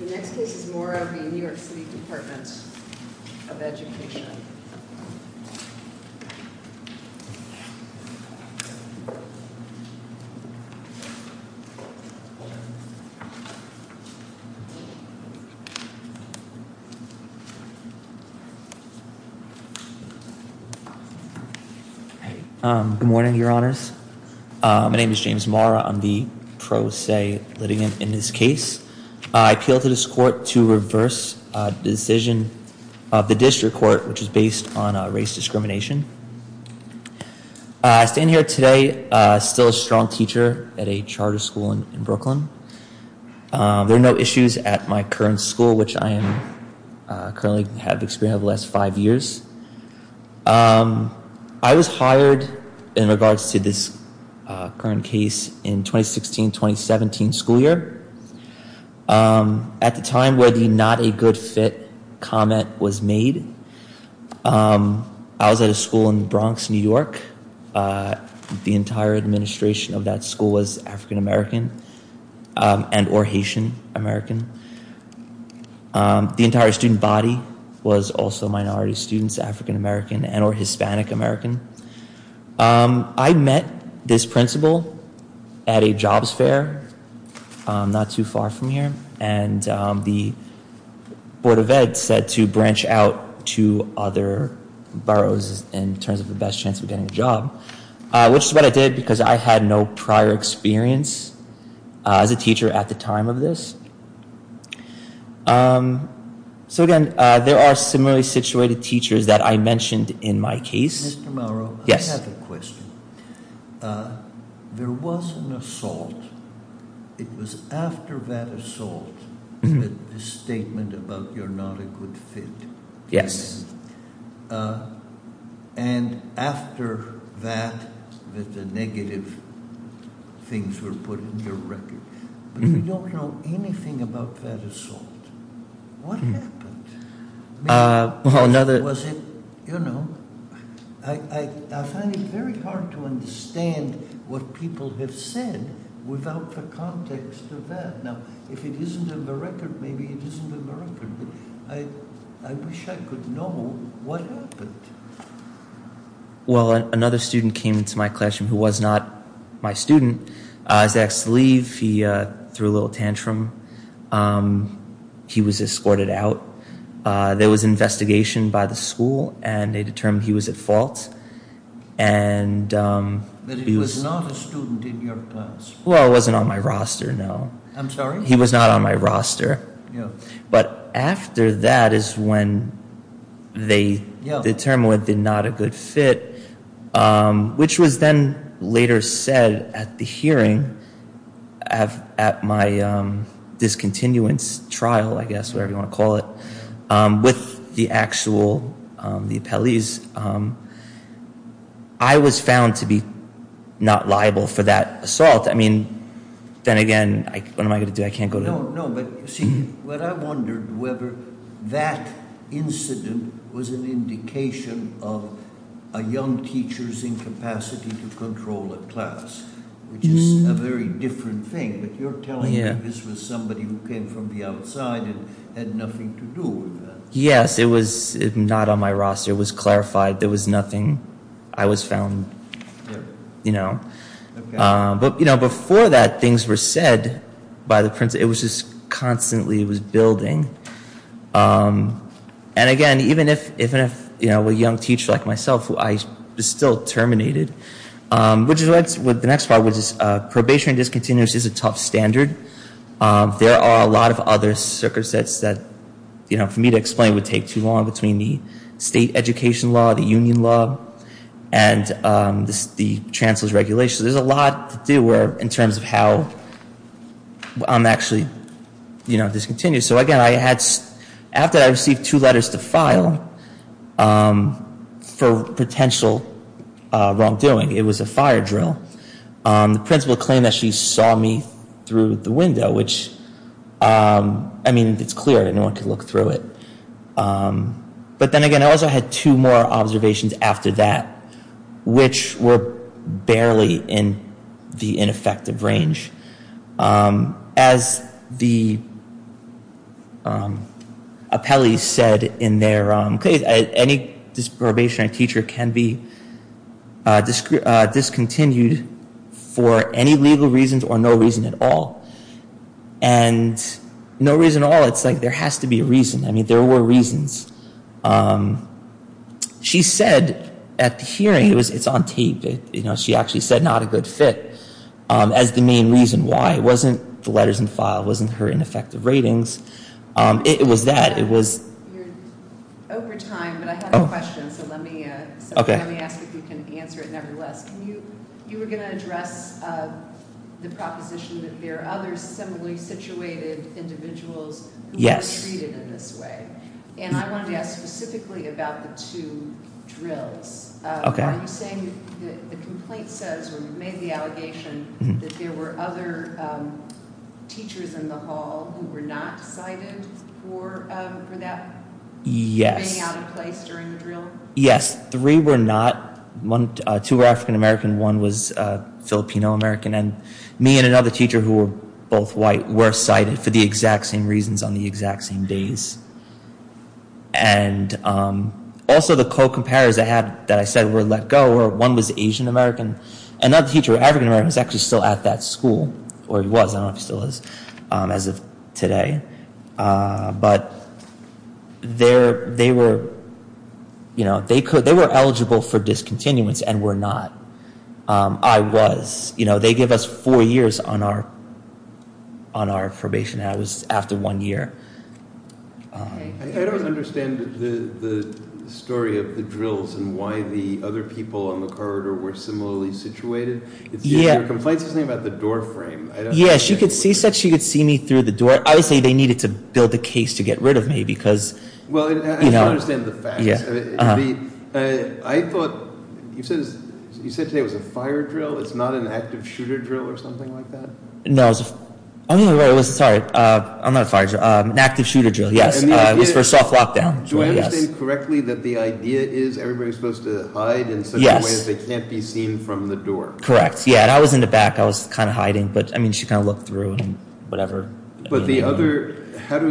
The next case is Morro v. New York City Department of Education. Good morning, Your Honors. My name is James Morro. I'm the pro se litigant in this case. I appealed to this court to reverse the decision of the district court, which is based on race discrimination. I stand here today still a strong teacher at a charter school in Brooklyn. There are no issues at my current school, which I am currently have experienced the last five years. I was hired in regards to this current case in 2016-2017 school year. At the time where the not a good fit comment was made, I was at a school in Bronx, New York. The entire administration of that school was African American and or Haitian American. The entire student body was also minority students, African American and or Hispanic American. I met this principal at a jobs fair not too far from here. And the Board of Ed said to branch out to other boroughs in terms of the best chance of getting a job, which is what I did because I had no prior experience as a teacher at the time of this. So again, there are similarly situated teachers that I mentioned in my case. Mr. Morro, I have a question. There was an assault. It was after that assault that the statement about you're not a good fit came in. And after that, the negative things were put in your record. But you don't know anything about that assault. What happened? I find it very hard to understand what people have said without the context of that. Now, if it isn't in the record, maybe it isn't in the record. I wish I could know what happened. Well, another student came into my classroom who was not my student. I was asked to leave. He threw a little tantrum. He was escorted out. There was an investigation by the school and they determined he was at fault. But he was not a student in your class? Well, he wasn't on my roster, no. I'm sorry? He was not on my roster. But after that is when they determined that he was not a good fit, which was then later said at the hearing, at my discontinuance trial, I guess, whatever you want to call it, with the actual appellees, I was found to be not liable for that assault. I mean, then again, what am I going to do? I can't go to... No, no, but you see, what I wondered, whether that incident was an indication of a young teacher's incapacity to control a class, which is a very different thing. But you're telling me this was somebody who came from the outside and had nothing to do with that. Yes, it was not on my roster. It was clarified. There was nothing. I was found, you know. But before that, things were said by the principal. It was just constantly building. And again, even if a young teacher like myself, who I still terminated, which is what the next part was, probationary discontinuance is a tough standard. There are a lot of other circumstances that, for me to explain, would take too long between the state education law, the union law, and the chancellor's regulations. There's a lot to do in terms of how I'm actually discontinued. So again, after I received two letters to file for potential wrongdoing, it was a fire drill. The principal claimed that she saw me through the window, which, I mean, it's clear that no one could look through it. But then again, I also had two more observations after that, which were barely in the ineffective range. As the appellees said in their case, any probationary teacher can be discontinued for any legal reasons or no reason at all. And no reason at all, it's like there has to be a reason. I mean, there were reasons. She said at the hearing, it's on tape, she actually said, not a good fit as the main reason why. It wasn't the letters in the file, it wasn't her ineffective ratings, it was that. You're over time, but I have a question, so let me ask if you can answer it nevertheless. You were going to address the proposition that there are other similarly situated individuals who were treated in this way, and I wanted to ask specifically about the two drills. Are you saying that the complaint says, or you've made the allegation, that there were other teachers in the hall who were not cited for that? Yes. For being out of place during the drill? Yes, three were not. Two were African-American, one was Filipino-American, and me and another teacher who were both white were cited for the exact same reasons on the exact same days. And also the co-comparers that I said were let go, one was Asian-American, another teacher, African-American, was actually still at that school, or he was, I don't know if he still is, as of today. But they were eligible for discontinuance and were not. I was. They gave us four years on our probation, and I was after one year. I don't understand the story of the drills and why the other people on the corridor were similarly situated. Your complaint says something about the door frame. Yes, she said she could see me through the door. I would say they needed to build a case to get rid of me because, you know. Well, I don't understand the facts. I thought you said today it was a fire drill. It's not an active shooter drill or something like that? No, I'm not a fire drill. An active shooter drill, yes. It was for a soft lockdown. Do I understand correctly that the idea is everybody is supposed to hide in such a way that they can't be seen from the door? Correct. Yeah, and I was in the back. I was kind of hiding. But, I mean, she kind of looked through and whatever. But the other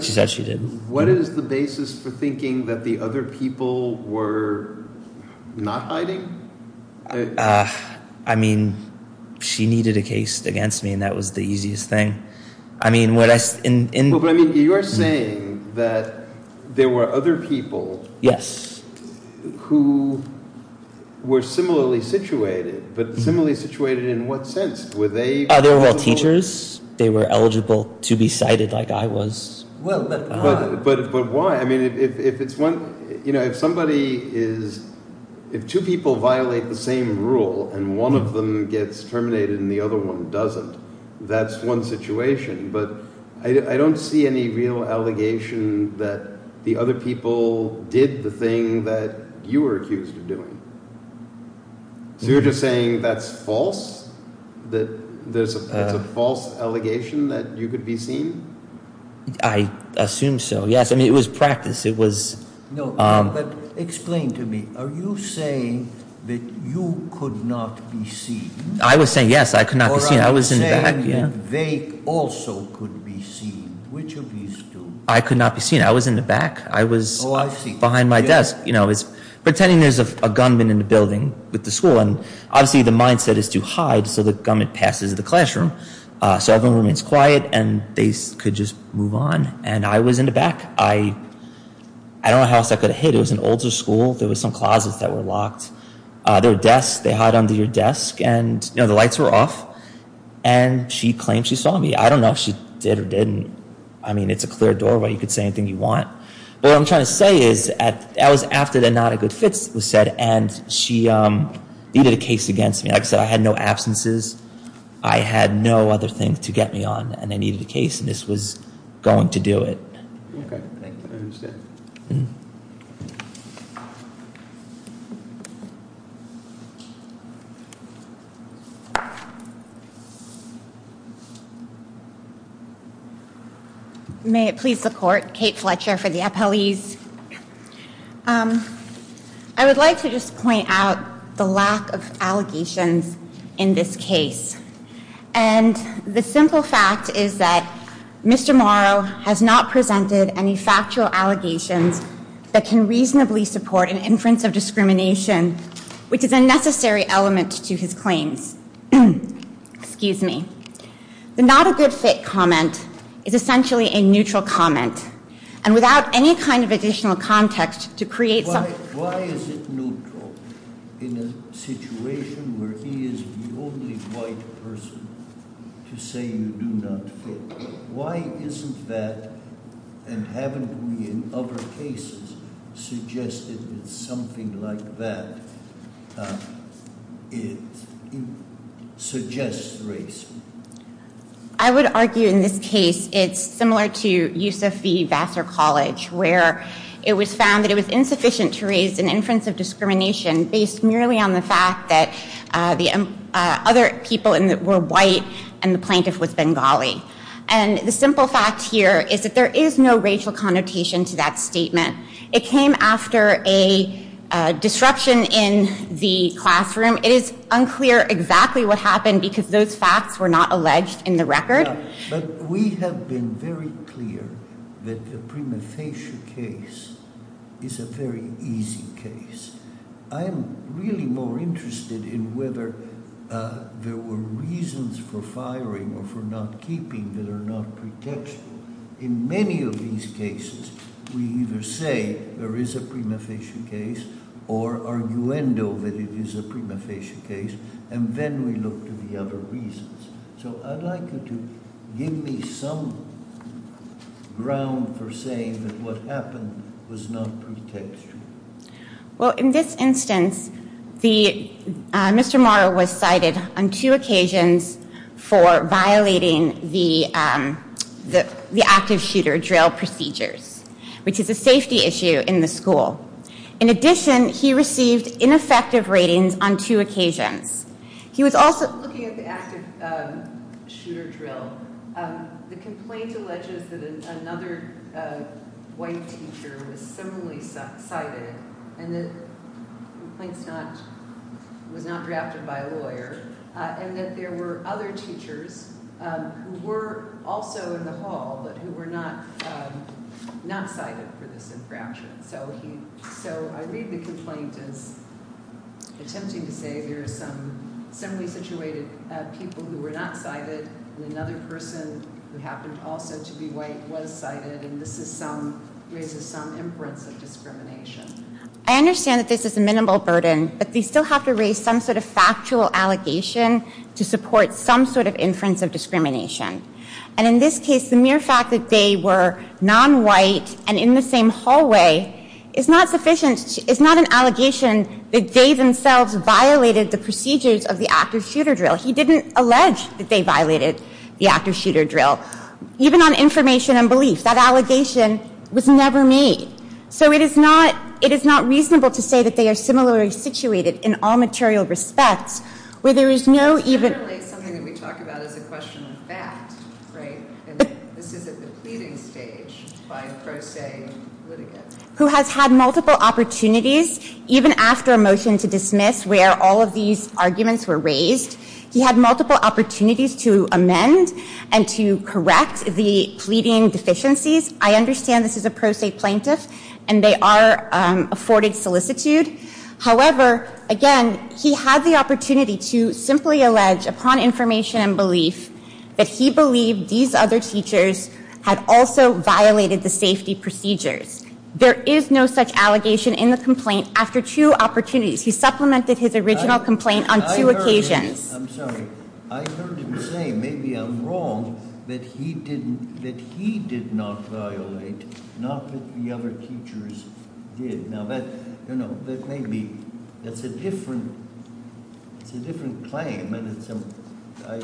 – She said she did. What is the basis for thinking that the other people were not hiding? I mean, she needed a case against me, and that was the easiest thing. I mean, what I – But, I mean, you are saying that there were other people. Yes. Who were similarly situated, but similarly situated in what sense? Were they – They were all teachers. They were eligible to be sighted like I was. Well, but – But why? I mean, if it's one – If somebody is – If two people violate the same rule and one of them gets terminated and the other one doesn't, that's one situation. But I don't see any real allegation that the other people did the thing that you were accused of doing. So you're just saying that's false? That there's a false allegation that you could be seen? I assume so, yes. I mean, it was practice. It was – No, but explain to me. Are you saying that you could not be seen? I was saying, yes, I could not be seen. Or I was saying they also could be seen. Which of these two? I could not be seen. I was in the back. I was behind my desk. Oh, I see. Pretending there's a gunman in the building with the school, and obviously the mindset is to hide so the gunman passes the classroom. So everyone remains quiet and they could just move on. And I was in the back. I don't know how else I could have hid. It was an older school. There were some closets that were locked. There were desks. They hide under your desk. And the lights were off. And she claimed she saw me. I don't know if she did or didn't. I mean, it's a clear doorway. You could say anything you want. But what I'm trying to say is that was after the not a good fit was said. And she did a case against me. Like I said, I had no absences. I had no other thing to get me on. And I needed a case, and this was going to do it. Okay. I understand. May it please the court. Kate Fletcher for the appellees. I would like to just point out the lack of allegations in this case. And the simple fact is that Mr. Morrow has not presented any factual allegations that can reasonably support an inference of discrimination, which is a necessary element to his claims. Excuse me. The not a good fit comment is essentially a neutral comment. And without any kind of additional context to create something. Why is it neutral in a situation where he is the only white person to say you do not fit? Why isn't that, and haven't we in other cases suggested that something like that suggests race? I would argue in this case it's similar to Yusuf V. Vassar College, where it was found that it was insufficient to raise an inference of discrimination based merely on the fact that the other people were white and the plaintiff was Bengali. And the simple fact here is that there is no racial connotation to that statement. It came after a disruption in the classroom. It is unclear exactly what happened because those facts were not alleged in the record. But we have been very clear that the prima facie case is a very easy case. I am really more interested in whether there were reasons for firing or for not keeping that are not protection. In many of these cases, we either say there is a prima facie case or arguendo that it is a prima facie case, and then we look to the other reasons. So I would like you to give me some ground for saying that what happened was not protection. Well, in this instance, Mr. Morrow was cited on two occasions for violating the active shooter drill procedures, which is a safety issue in the school. In addition, he received ineffective ratings on two occasions. He was also looking at the active shooter drill. The complaint alleges that another white teacher was similarly cited and that the complaint was not drafted by a lawyer, and that there were other teachers who were also in the hall who were not cited for this infraction. So I read the complaint as attempting to say there are some similarly situated people who were not cited, and another person who happened also to be white was cited, and this raises some inference of discrimination. I understand that this is a minimal burden, but they still have to raise some sort of factual allegation to support some sort of inference of discrimination. And in this case, the mere fact that they were nonwhite and in the same hallway is not sufficient. It's not an allegation that they themselves violated the procedures of the active shooter drill. He didn't allege that they violated the active shooter drill. Even on information and belief, that allegation was never made. So it is not reasonable to say that they are similarly situated in all material respects, where there is no even ---- And this is at the pleading stage by a pro se litigant. Who has had multiple opportunities, even after a motion to dismiss where all of these arguments were raised. He had multiple opportunities to amend and to correct the pleading deficiencies. I understand this is a pro se plaintiff, and they are afforded solicitude. However, again, he had the opportunity to simply allege upon information and belief that he believed these other teachers had also violated the safety procedures. There is no such allegation in the complaint after two opportunities. He supplemented his original complaint on two occasions. I'm sorry. I heard him say, maybe I'm wrong, that he did not violate, not that the other teachers did. Now that may be, that's a different claim. And it's a-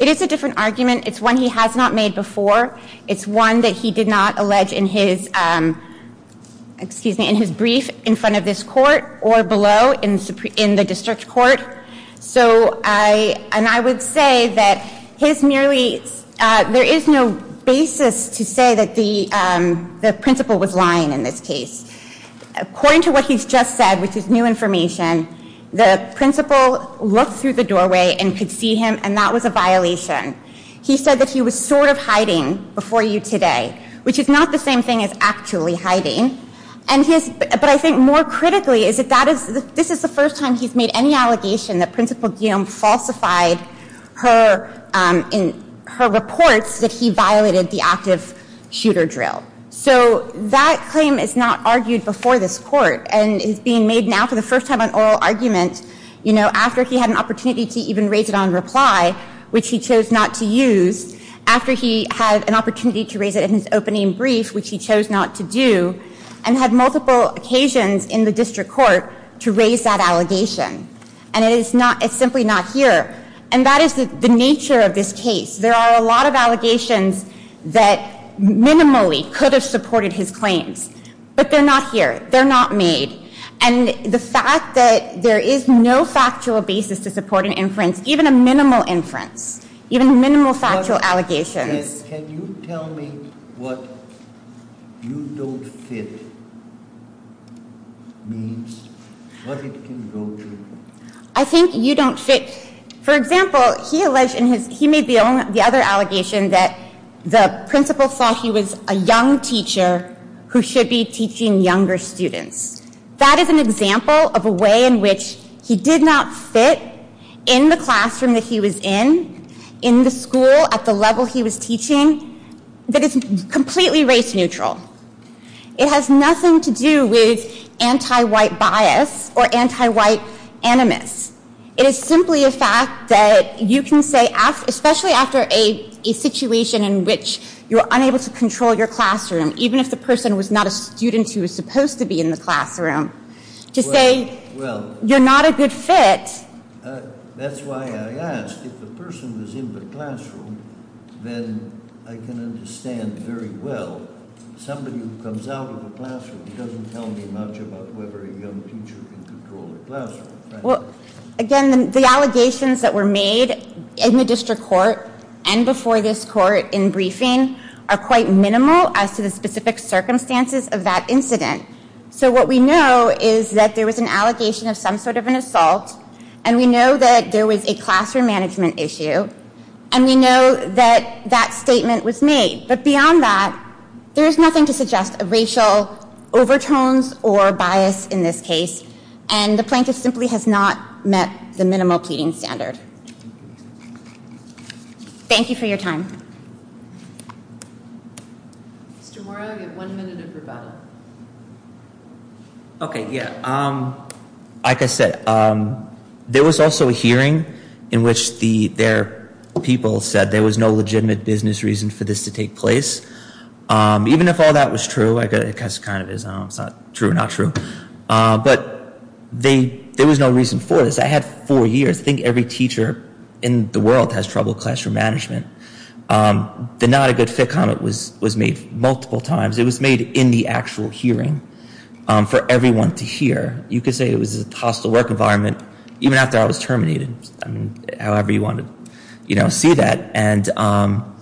It is a different argument. It's one he has not made before. It's one that he did not allege in his, excuse me, in his brief in front of this court or below in the district court. So I, and I would say that his merely, there is no basis to say that the principal was lying in this case. According to what he's just said, which is new information, the principal looked through the doorway and could see him, and that was a violation. He said that he was sort of hiding before you today, which is not the same thing as actually hiding. And his, but I think more critically is that that is, this is the first time he's made any allegation that Principal Guillaume falsified her, in her reports that he violated the active shooter drill. So that claim is not argued before this court and is being made now for the first time on oral argument. You know, after he had an opportunity to even raise it on reply, which he chose not to use, after he had an opportunity to raise it in his opening brief, which he chose not to do, and had multiple occasions in the district court to raise that allegation. And it is not, it's simply not here. And that is the nature of this case. There are a lot of allegations that minimally could have supported his claims. But they're not here. They're not made. And the fact that there is no factual basis to support an inference, even a minimal inference, even a minimal factual allegation. Can you tell me what you don't fit means? What it can go to? I think you don't fit. For example, he alleged in his, he made the other allegation that the principal thought he was a young teacher who should be teaching younger students. That is an example of a way in which he did not fit in the classroom that he was in, in the school at the level he was teaching, that is completely race neutral. It has nothing to do with anti-white bias or anti-white animus. It is simply a fact that you can say, especially after a situation in which you're unable to control your classroom, even if the person was not a student who was supposed to be in the classroom, to say you're not a good fit. That's why I asked. If the person was in the classroom, then I can understand very well. Somebody who comes out of the classroom doesn't tell me much about whether a young teacher can control the classroom. Again, the allegations that were made in the district court and before this court in briefing are quite minimal as to the specific circumstances of that incident. So what we know is that there was an allegation of some sort of an assault, and we know that there was a classroom management issue, and we know that that statement was made. But beyond that, there is nothing to suggest racial overtones or bias in this case. And the plaintiff simply has not met the minimal pleading standard. Thank you for your time. Mr. Mora, you have one minute of rebuttal. Okay, yeah. Like I said, there was also a hearing in which their people said there was no legitimate business reason for this to take place. Even if all that was true, I guess it kind of is true or not true, but there was no reason for this. I had four years. I think every teacher in the world has trouble classroom management. The not a good fit comment was made multiple times. It was made in the actual hearing for everyone to hear. You could say it was a hostile work environment even after I was terminated, however you want to see that. And I'm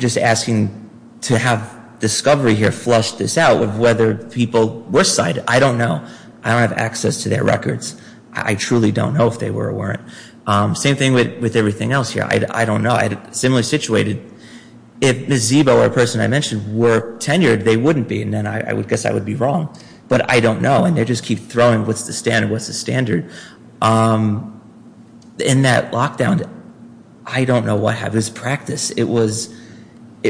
just asking to have discovery here flush this out of whether people were cited. I don't know. I don't have access to their records. I truly don't know if they were or weren't. Same thing with everything else here. I don't know. I had a similar situation. If Ms. Zibo or a person I mentioned were tenured, they wouldn't be, and then I would guess I would be wrong. But I don't know, and they just keep throwing what's the standard, what's the standard. In that lockdown, I don't know what happened. It was practice. It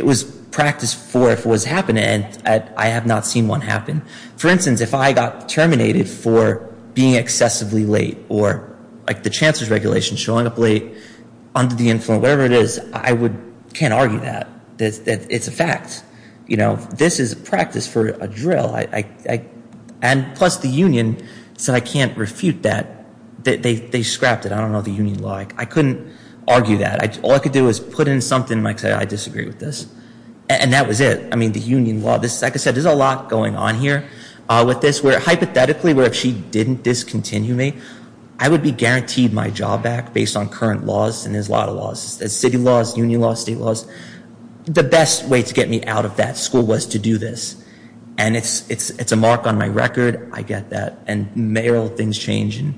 was practice for if it was happening, and I have not seen one happen. For instance, if I got terminated for being excessively late or like the Chancellor's Regulation showing up late, under the influence, whatever it is, I can't argue that. This is practice for a drill. And plus the union said I can't refute that. They scrapped it. I don't know the union law. I couldn't argue that. All I could do is put in something and say I disagree with this. And that was it. I mean, the union law. Like I said, there's a lot going on here with this where hypothetically what if she didn't discontinue me, I would be guaranteed my job back based on current laws, and there's a lot of laws. There's city laws, union laws, state laws. The best way to get me out of that school was to do this. And it's a mark on my record. I get that. And mayoral things change, and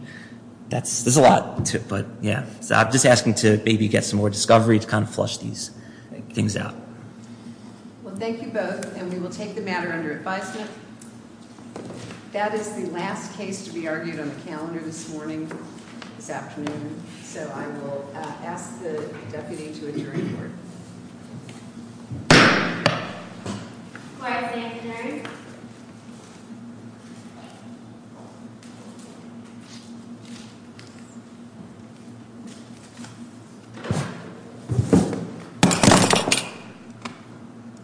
there's a lot. But, yeah. So I'm just asking to maybe get some more discovery to kind of flush these things out. Well, thank you both, and we will take the matter under advisement. That is the last case to be argued on the calendar this morning, this afternoon. So I will ask the deputy to adjourn the board. Quiet when I adjourn.